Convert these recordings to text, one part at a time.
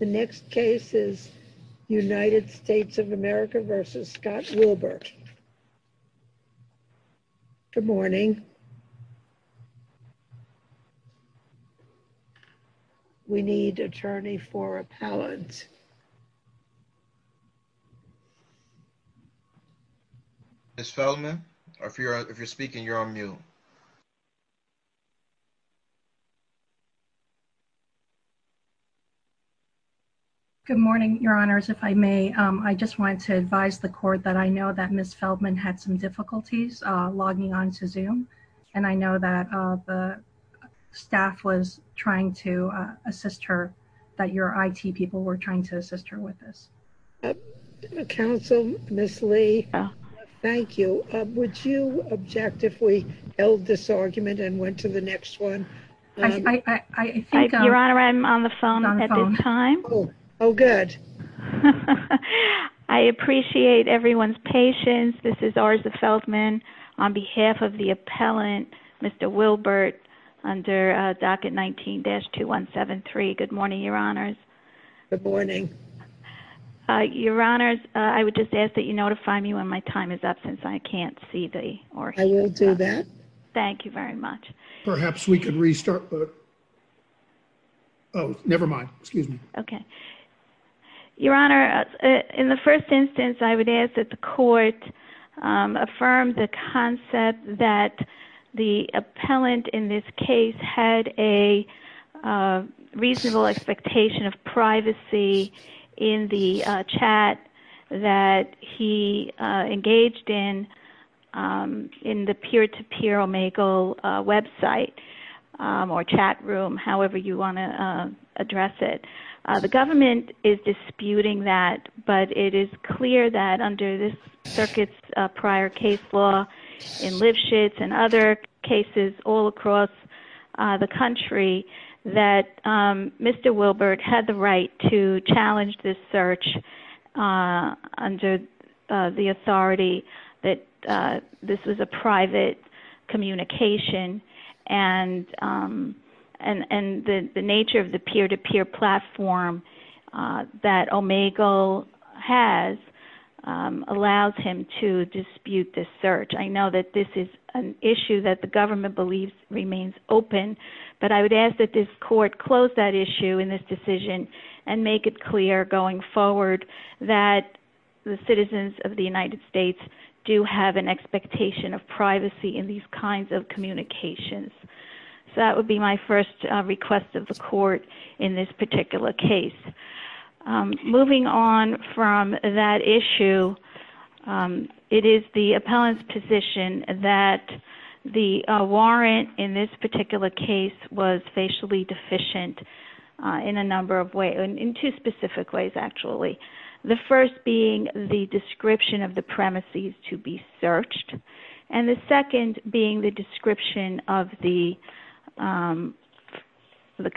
The next case is United States of America v. Scott Wilbert. Good morning. We need attorney for appellant. Ms. Feldman, if you're speaking, you're on mute. Good morning, Your Honors. If I may, I just wanted to advise the court that I know that Ms. Feldman had some difficulties logging on to Zoom, and I know that the staff was trying to assist her, that your IT people were trying to assist her with this. Counsel, Ms. Lee, thank you. Would you object if we held this argument and went to the next one? I think I'm on the phone. Your Honor, I'm on the phone at this time. Oh, good. I appreciate everyone's patience. This is Orza Feldman on behalf of the appellant, Mr. Wilbert under docket 19-2173. Good morning, Your Honors. Good morning. Your Honors, I would just ask that you notify me when my time is up since I can't see the Orza. I will do that. Thank you very much. Perhaps we could restart. Oh, never mind. Excuse me. Okay. Your Honor, in the first instance, I would ask that the court affirm the concept that the appellant in this case had a reasonable expectation of privacy in the chat that he engaged in in the peer-to-peer Omegle website or chat room, however you want to address it. The government is disputing that, but it is clear that under this circuit's prior case law in Lipschitz and other cases all across the country that Mr. Wilbert had the right to challenge this search under the authority that this was a private communication and the nature of the peer-to-peer platform that Omegle has allows him to dispute this search. I know that this is an issue that the government believes remains open, but I would ask that this court close that issue in this that the citizens of the United States do have an expectation of privacy in these kinds of communications. That would be my first request of the court in this particular case. Moving on from that issue, it is the appellant's position that the warrant in this particular case was facially deficient in two specific ways. The first being the description of the premises to be searched and the second being the description of the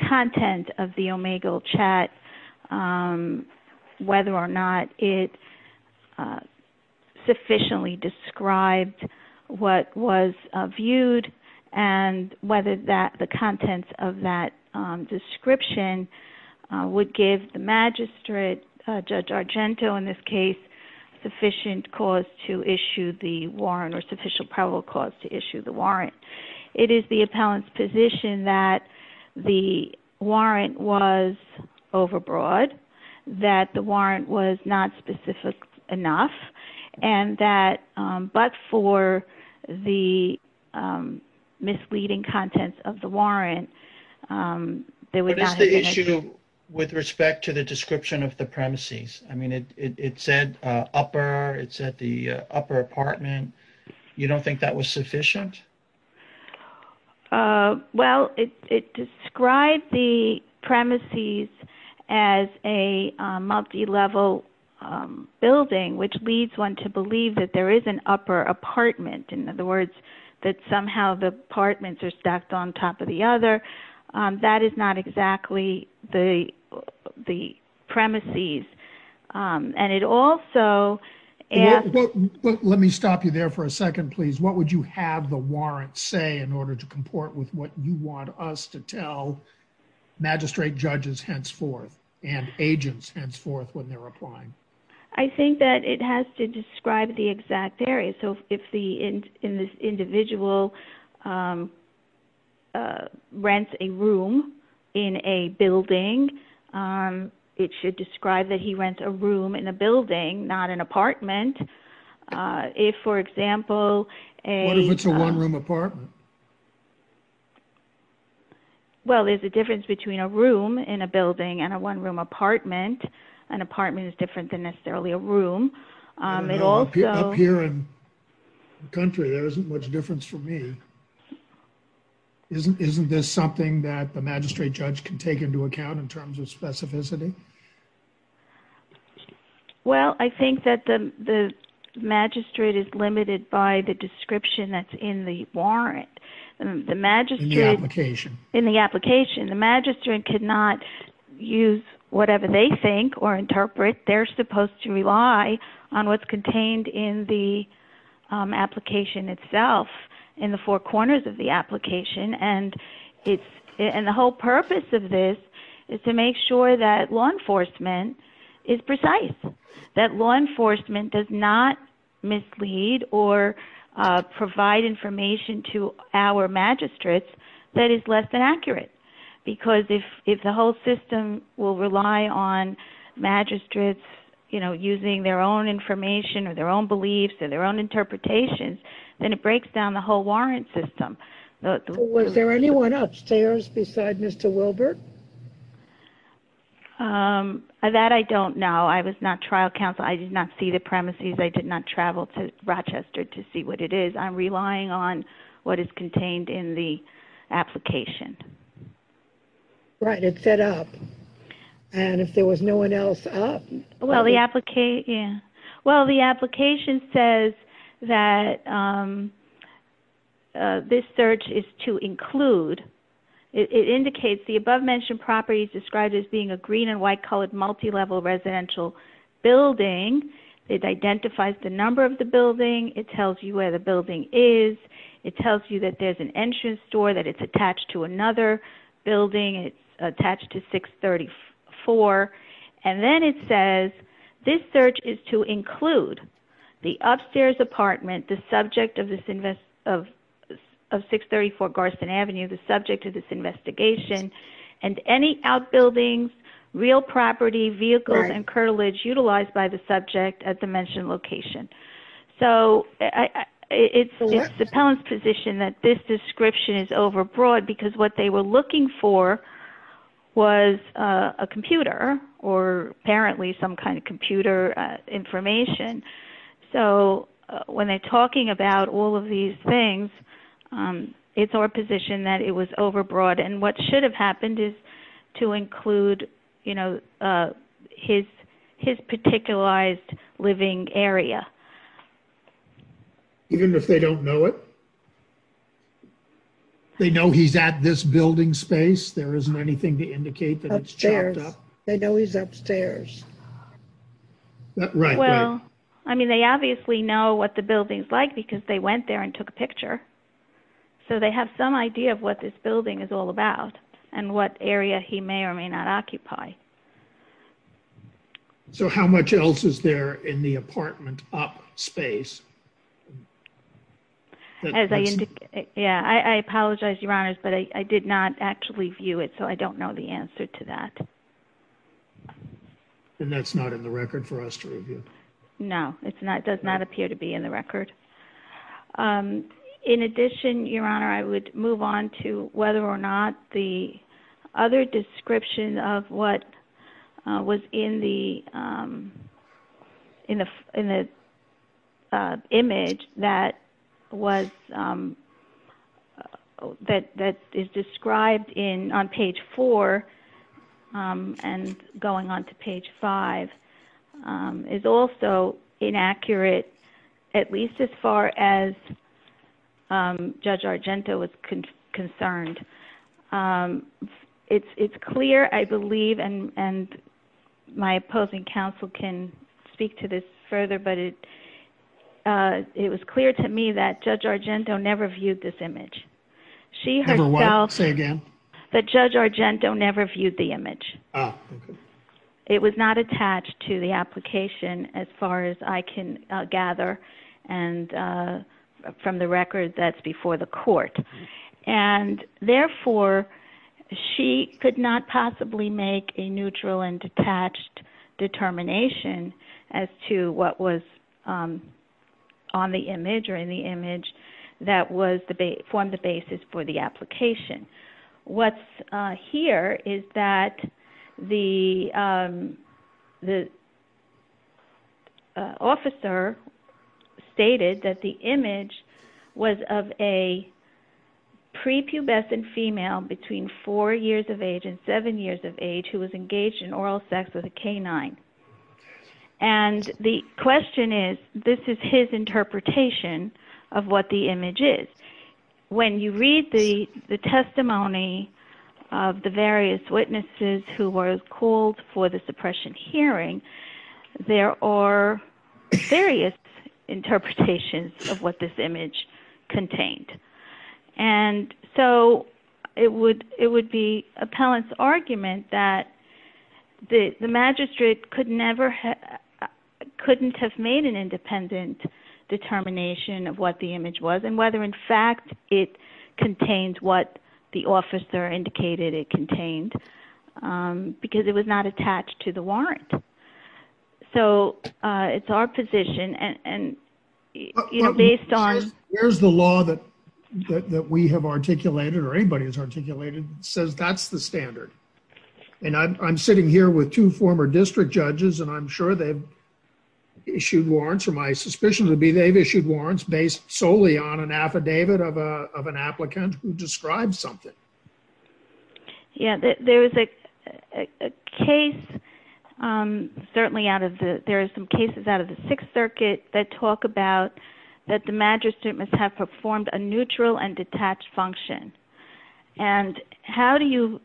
content of the Omegle chat, whether or not it sufficiently described what was viewed and whether the contents of that description would give the magistrate, Judge Argento in this case, sufficient cause to issue the warrant or sufficient probable cause to issue the warrant. It is the appellant's position that the warrant was overbroad, that the warrant was not specific enough, and that but for the misleading contents of the warrant, they would not have been able to- What is the issue with respect to the description of the premises? I mean, it said upper, it said the upper apartment. You don't think that was sufficient? Well, it described the premises as a multi-level building, which leads one to believe that there is an upper apartment. In other words, that somehow the apartments are stacked on top of the other. That is not exactly the premises. And it also- Let me stop you there for a second, please. What would you have the warrant say in order to comport with what you want us to tell magistrate judges henceforth and agents henceforth when they're applying? I think that it has to describe the exact area. So if the individual rents a room in a building, it should describe that he rents a room in a building, not an apartment. If, for example- What if it's a one-room apartment? Well, there's a difference between a room in a building and a one-room apartment. An apartment is different than necessarily a room. It also- Up here in the country, there isn't much difference for me. Isn't this something that the magistrate judge can take into account in terms of specificity? Well, I think that the magistrate is limited by the description that's in the warrant. The magistrate- In the application. In the application. The magistrate could not use whatever they think or interpret. They're contained in the application itself, in the four corners of the application. And the whole purpose of this is to make sure that law enforcement is precise, that law enforcement does not mislead or provide information to our magistrates that is less than accurate. Because if the whole system will rely on magistrates using their own information or their own beliefs or their own interpretations, then it breaks down the whole warrant system. Was there anyone upstairs beside Mr. Wilbert? That I don't know. I was not trial counsel. I did not see the premises. I did not travel to Rochester to see what it is. I'm relying on what is contained in the application. Right. It's set up. And if there was no one else up- Well, the application says that this search is to include. It indicates the above mentioned properties described as being a green and white colored multi-level residential building. It identifies the number of the building. It tells you where the building is. It tells you that there's an entrance door, that it's attached to another building. It's attached to 634. And then it says this search is to include the upstairs apartment, the subject of 634 Garston Avenue, the subject of this investigation, and any outbuildings, real property, vehicles, and curtilage utilized by the subject at the mentioned location. So it's the appellant's position that this description is overbroad because what they were looking for was a computer or apparently some kind of computer information. So when they're talking about all of these things, it's our position that it was overbroad. And what should have happened is to include, you know, his particularized living area. Even if they don't know it? They know he's at this building space? There isn't anything to indicate that it's chopped up? They know he's upstairs. Well, I mean, they obviously know what the building's like because they went there and took a picture. So they have some idea of what this building is all about and what area he may or may not occupy. So how much else is there in the apartment up space? Yeah, I apologize, Your Honors, but I did not actually view it, so I don't know the answer to that. And that's not in the record for us to review? No, it does not appear to be in the record. In addition, Your Honor, I would move on to whether or not the other description of what was in the image that is described on page 4 and going on to page 5 is also inaccurate, at least as far as Judge Argento was concerned. It's clear, I believe, and my opposing counsel can speak to this further, but it was clear to me that Judge Argento never viewed this image. Never what? Say again? That Judge Argento never viewed the image. It was not attached to the application as far as I can gather from the record that's before the court. And therefore, she could not possibly make a neutral and detached determination as to what was on the image or in the image that formed the basis for the application. What's here is that the officer stated that the image was of a prepubescent female between 4 years of age and 7 years of age who was engaged in oral sex with a canine. And the question is, this is his interpretation of what the image is. When you read the testimony of the various witnesses who were called for the suppression hearing, there are various interpretations of what this image contained. And so, it would be appellant's argument that the magistrate could never, couldn't have made an independent determination of what the image was and whether, in fact, it contained what the officer indicated it contained because it was not attached to the law. I'm sitting here with two former district judges and I'm sure they've issued warrants, or my suspicion would be they've issued warrants based solely on an affidavit of an applicant who described something. Yeah, there was a case, certainly out of the, there are some cases out of the Sixth Circuit that talk about that the magistrate must have performed a neutral and detached function. And how do you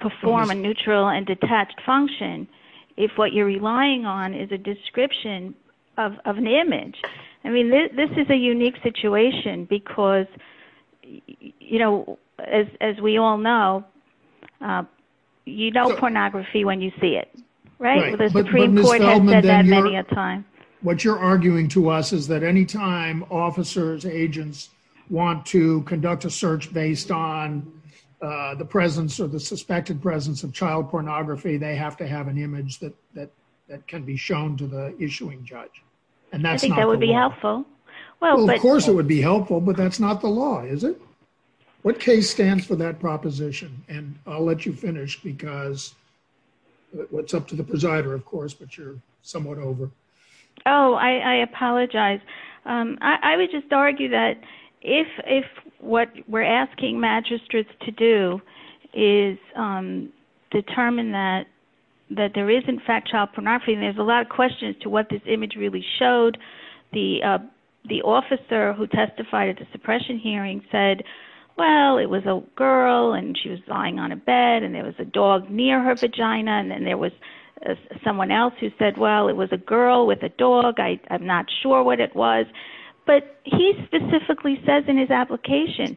perform a neutral and detached function if what you're relying on is a description of an image? I mean, this is a unique situation because, you know, as we all know, you know pornography when you see it, right? The Supreme Court has said that many a time. What you're arguing to us is that anytime officers, agents want to conduct a search based on the presence or the suspected presence of child pornography, they have to have an image that can be shown to the issuing judge. And I think that would be helpful. Well, of course it would be helpful, but that's not the law, is it? What case stands for that proposition? And I'll let you finish because it's up to the presider, of course, but you're somewhat over. Oh, I apologize. I would just argue that if what we're asking magistrates to do is determine that there is in fact child pornography, and there's a lot of questions to what this image really showed, the officer who testified at the suppression hearing said, well, it was a girl and she was lying on a bed and there was a dog near her vagina. And then there was someone else who said, well, it was a girl with a dog. I am not sure what it was, but he specifically says in his application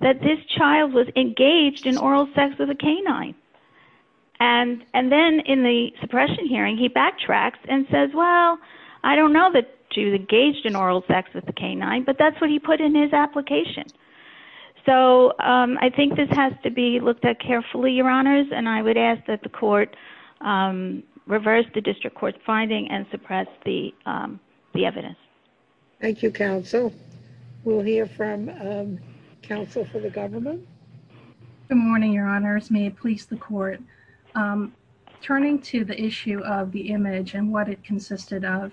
that this child was engaged in oral sex with a canine. And then in the suppression hearing, he backtracks and says, well, I don't know that she was engaged in oral sex with the canine, but that's what he put in his application. So I think this has to be looked at carefully, your honors. And I would ask that the court reverse the district court's finding and suppress the evidence. Thank you, counsel. We'll hear from counsel for the government. Good morning, your honors. May it please the court. Turning to the issue of the image and what it consisted of,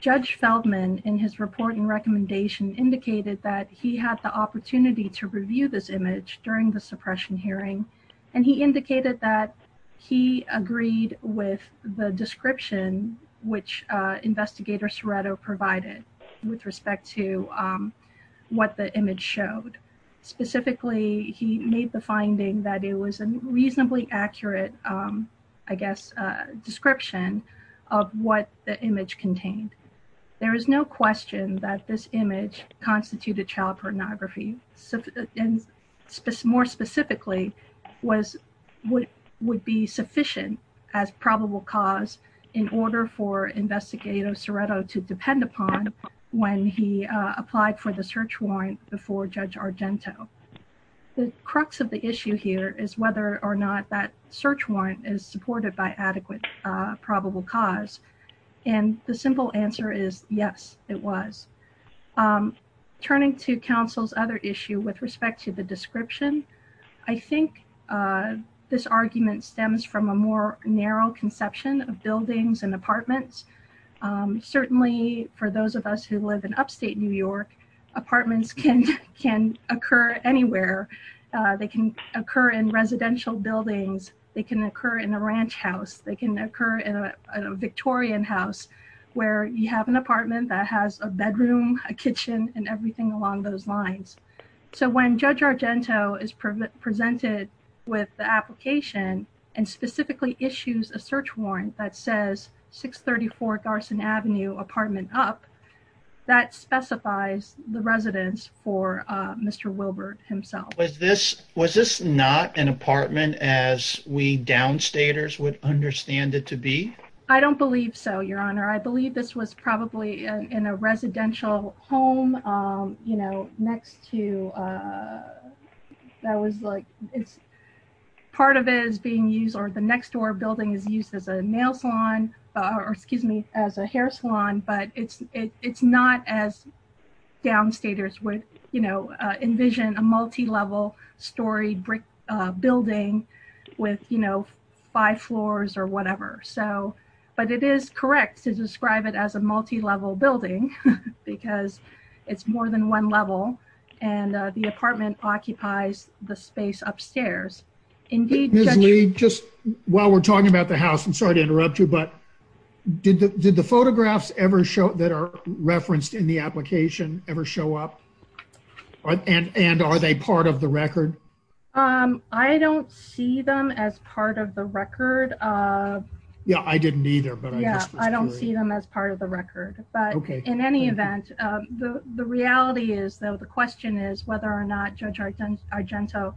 Judge Feldman in his report and recommendation indicated that he had the opportunity to review this image during the suppression hearing. And he indicated that he agreed with the description, which investigator Ceretto provided with respect to what the image showed. Specifically, he made the finding that it was a reasonably accurate, I guess, description of what the image contained. There is no question that this image constituted child pornography. And more specifically, would be sufficient as probable cause in order for investigator Ceretto to depend upon when he applied for the search warrant before Judge Argento. The crux of the issue here is whether or not that search warrant is supported by adequate probable cause. And the simple answer is yes, it was. Turning to counsel's other issue with respect to the description, I think this argument stems from a more narrow conception of buildings and apartments. Certainly for those of us who live in upstate New York, apartments can occur anywhere. They can occur in residential buildings. They can occur in a ranch house. They can occur in a Victorian house where you have an apartment that has a bedroom, a kitchen, and everything along those lines. So when Judge Argento is presented with the application and specifically issues a search warrant that says 634 Garson Avenue, apartment up, that specifies the residence for Mr. Wilbert himself. Was this not an apartment as we downstaters would understand it to be? I don't believe so, Your Honor. I believe this was probably in a residential home, you know, next to, that was like, part of it is being used, the next door building is used as a nail salon, or excuse me, as a hair salon, but it's not as downstaters would, you know, envision a multi-level storied brick building with, you know, five floors or whatever. So, but it is correct to describe it as a multi-level building because it's more than one level and the apartment occupies the space upstairs. Indeed. Ms. Lee, just while we're talking about the house, I'm sorry to interrupt you, but did the photographs ever show, that are referenced in the application, ever show up? And are they part of the record? I don't see them as part of the record. Yeah, I didn't either. But yeah, I don't see them as part of the record, but in any event, the reality is though, the question is whether or not Judge Argento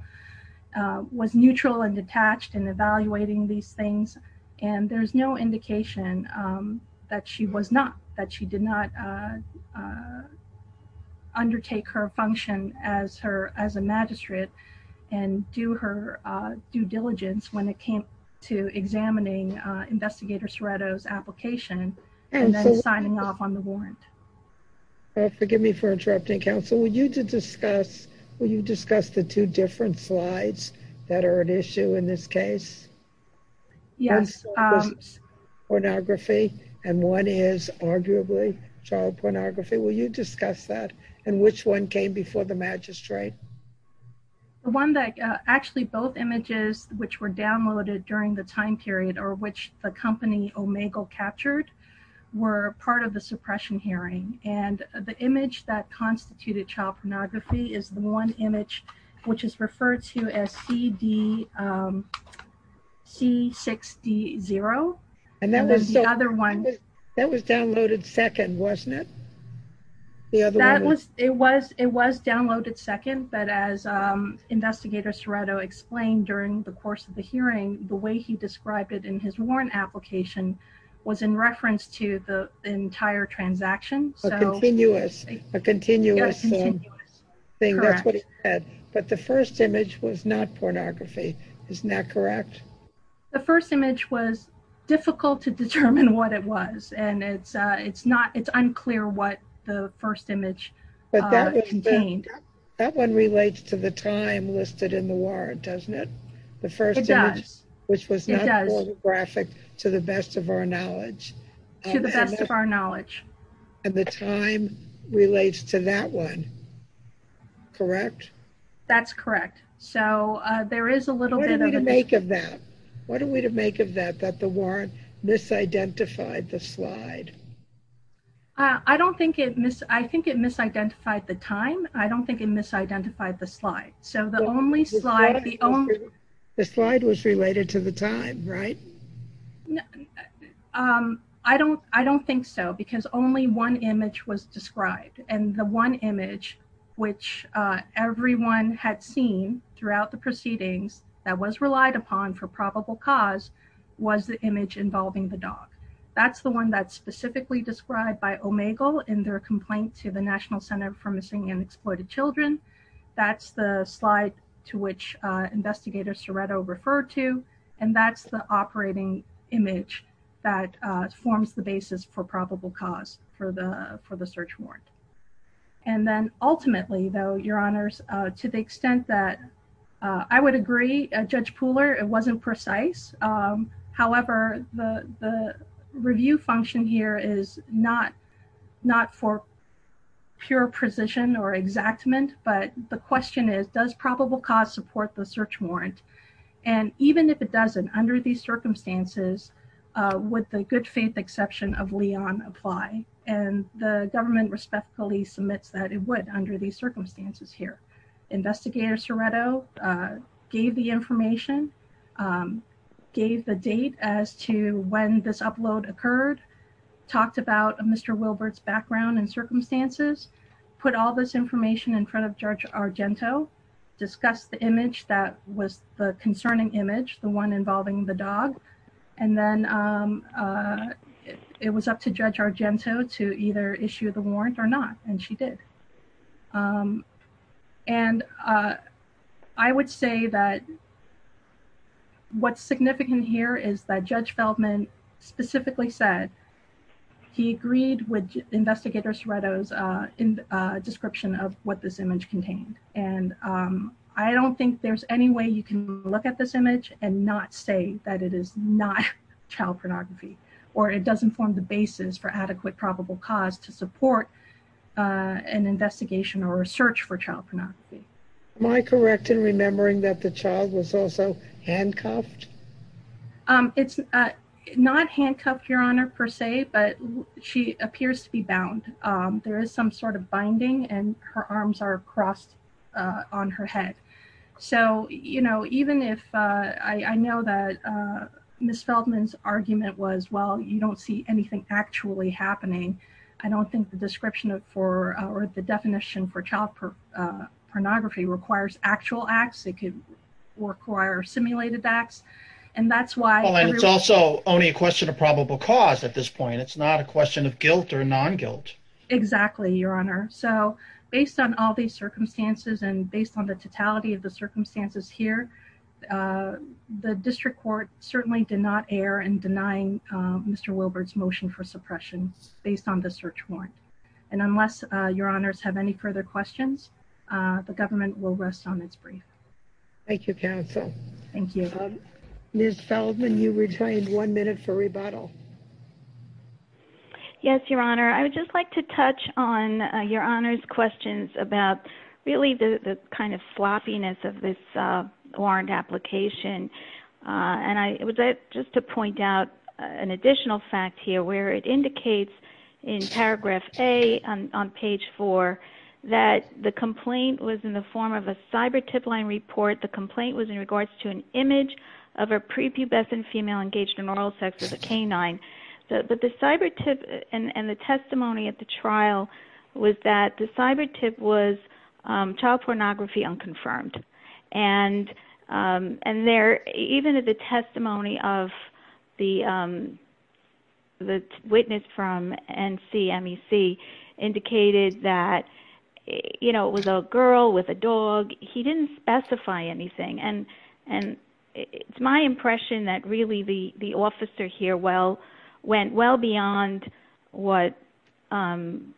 was neutral and detached in evaluating these things. And there's no indication that she was not, that she did not undertake her function as her, as a magistrate and do her due diligence when it came to examining Investigator Ceretto's application and then signing off on the warrant. Forgive me for interrupting, Counsel. Would you to discuss, will you discuss the two different slides that are at issue in this case? Yes. Pornography and one is arguably child pornography. Will you discuss that and which one came before the magistrate? The one that, actually both images which were downloaded during the time period or which the company Omegle captured were part of the suppression hearing. And the image that constituted child pornography is the one image which is referred to as CD, C6D0. And that was the other one. That was downloaded second, wasn't it? That was, it was, it was downloaded second, but as Investigator Ceretto explained during the course of the hearing, the way he described it in his warrant application was in reference to the entire transaction. A continuous, a continuous thing. That's what he said. But the first image was not pornography. Isn't that correct? The first image was difficult to determine what it was. And it's, it's not, it's unclear what the first image contained. That one relates to the time listed in the warrant, doesn't it? The first image, which was not pornographic to the best of our knowledge. To the best of our knowledge. And the time relates to that one. Correct? That's correct. So there is a little bit of a... What do we make of that? What are we to make of that, that the warrant misidentified the slide? I don't think it mis, I think it misidentified the time. I don't think it misidentified the slide. So the only slide, the only... The slide was related to the time, right? Um, I don't, I don't think so because only one image was described. And the one image which, uh, everyone had seen throughout the proceedings that was relied upon for probable cause was the image involving the dog. That's the one that's specifically described by Omegle in their complaint to the National Center for Missing and Exploited Children. That's the slide to which, uh, Investigator Ceretto referred to. And that's the operating image that, uh, forms the basis for probable cause for the, for the search warrant. And then ultimately though, Your Honors, uh, to the extent that, uh, I would agree, Judge Pooler, it wasn't precise. Um, however, the, the review function here is not, not for pure precision or exactment, but the question is, does probable cause support the search warrant? And even if it doesn't under these circumstances, uh, would the good faith exception of Leon apply? And the government respectfully submits that it would under these circumstances here. Investigator Ceretto, uh, gave the information, um, gave the date as to when this upload occurred, talked about Mr. Wilbert's background and circumstances, put all this information in front of Judge Argento, discussed the image that was the concerning image, the one involving the dog. And then, um, uh, it was up to Judge Argento to either issue the warrant or not. And she did. Um, and, uh, I would say that what's significant here is that Judge Feldman specifically said he agreed with Investigator Ceretto's, uh, in, uh, description of what this image contained. And, um, I don't think there's any way you can look at this image and not say that it is not child pornography, or it doesn't form the basis for adequate probable cause to support, uh, an investigation or a search for child pornography. Am I correct in remembering that the child was also handcuffed? Um, it's, uh, not handcuffed, Your Honor, per se, but she appears to be bound. Um, there is some sort of binding and her arms are crossed, uh, on her head. So, you know, even if, uh, I, I know that, uh, Ms. Feldman's argument was, well, you don't see anything actually happening. I don't think the description of, for, uh, or the definition for child, uh, pornography requires actual acts that could require simulated acts. And that's why it's also only a question of probable cause. At this point, it's not a question of guilt or non-guilt. Exactly, Your Honor. So based on all these circumstances and based on the totality of the circumstances here, uh, the District Court certainly did not err in denying, um, Mr. Wilbert's motion for suppression based on the search warrant. And unless, uh, Your Honors have any further questions, uh, the government will rest on its brief. Thank you, counsel. Thank you. Um, Ms. Feldman, you were trained one minute for rebuttal. Yes, Your Honor. I would just like to touch on, uh, Your Honor's questions about really the, the kind of floppiness of this, uh, warrant application. Uh, and I would like just to that the complaint was in the form of a cyber-tip line report. The complaint was in regards to an image of a prepubescent female engaged in oral sex with a canine. But the cyber-tip and, and the testimony at the trial was that the cyber-tip was, um, child pornography unconfirmed. And, um, and there, even at the testimony of the, um, the witness from NCMEC indicated that, you know, it was a girl with a dog. He didn't specify anything. And, and it's my impression that really the, the officer here well, went well beyond what, um,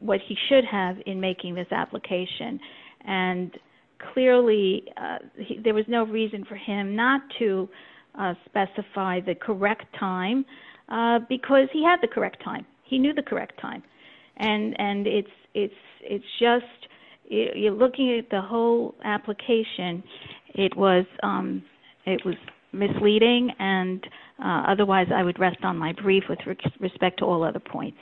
what he should have in making this application. And clearly, uh, there was no reason for him not to, uh, specify the correct time, uh, because he had the correct time. He knew the correct time. And, and it's, it's, it's just, you're looking at the whole application. It was, um, it was misleading. And, uh, otherwise I would rest on my brief with respect to all other points.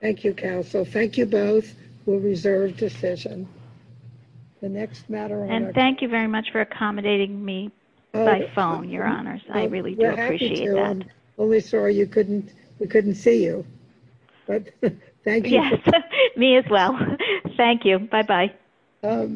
Thank you, counsel. Thank you both. We'll reserve decision. The next matter. And thank you very much for accommodating me by phone, your honors. I really do appreciate that. Only sorry you couldn't, we couldn't see you, but thank you. Me as well. Thank you. Bye-bye.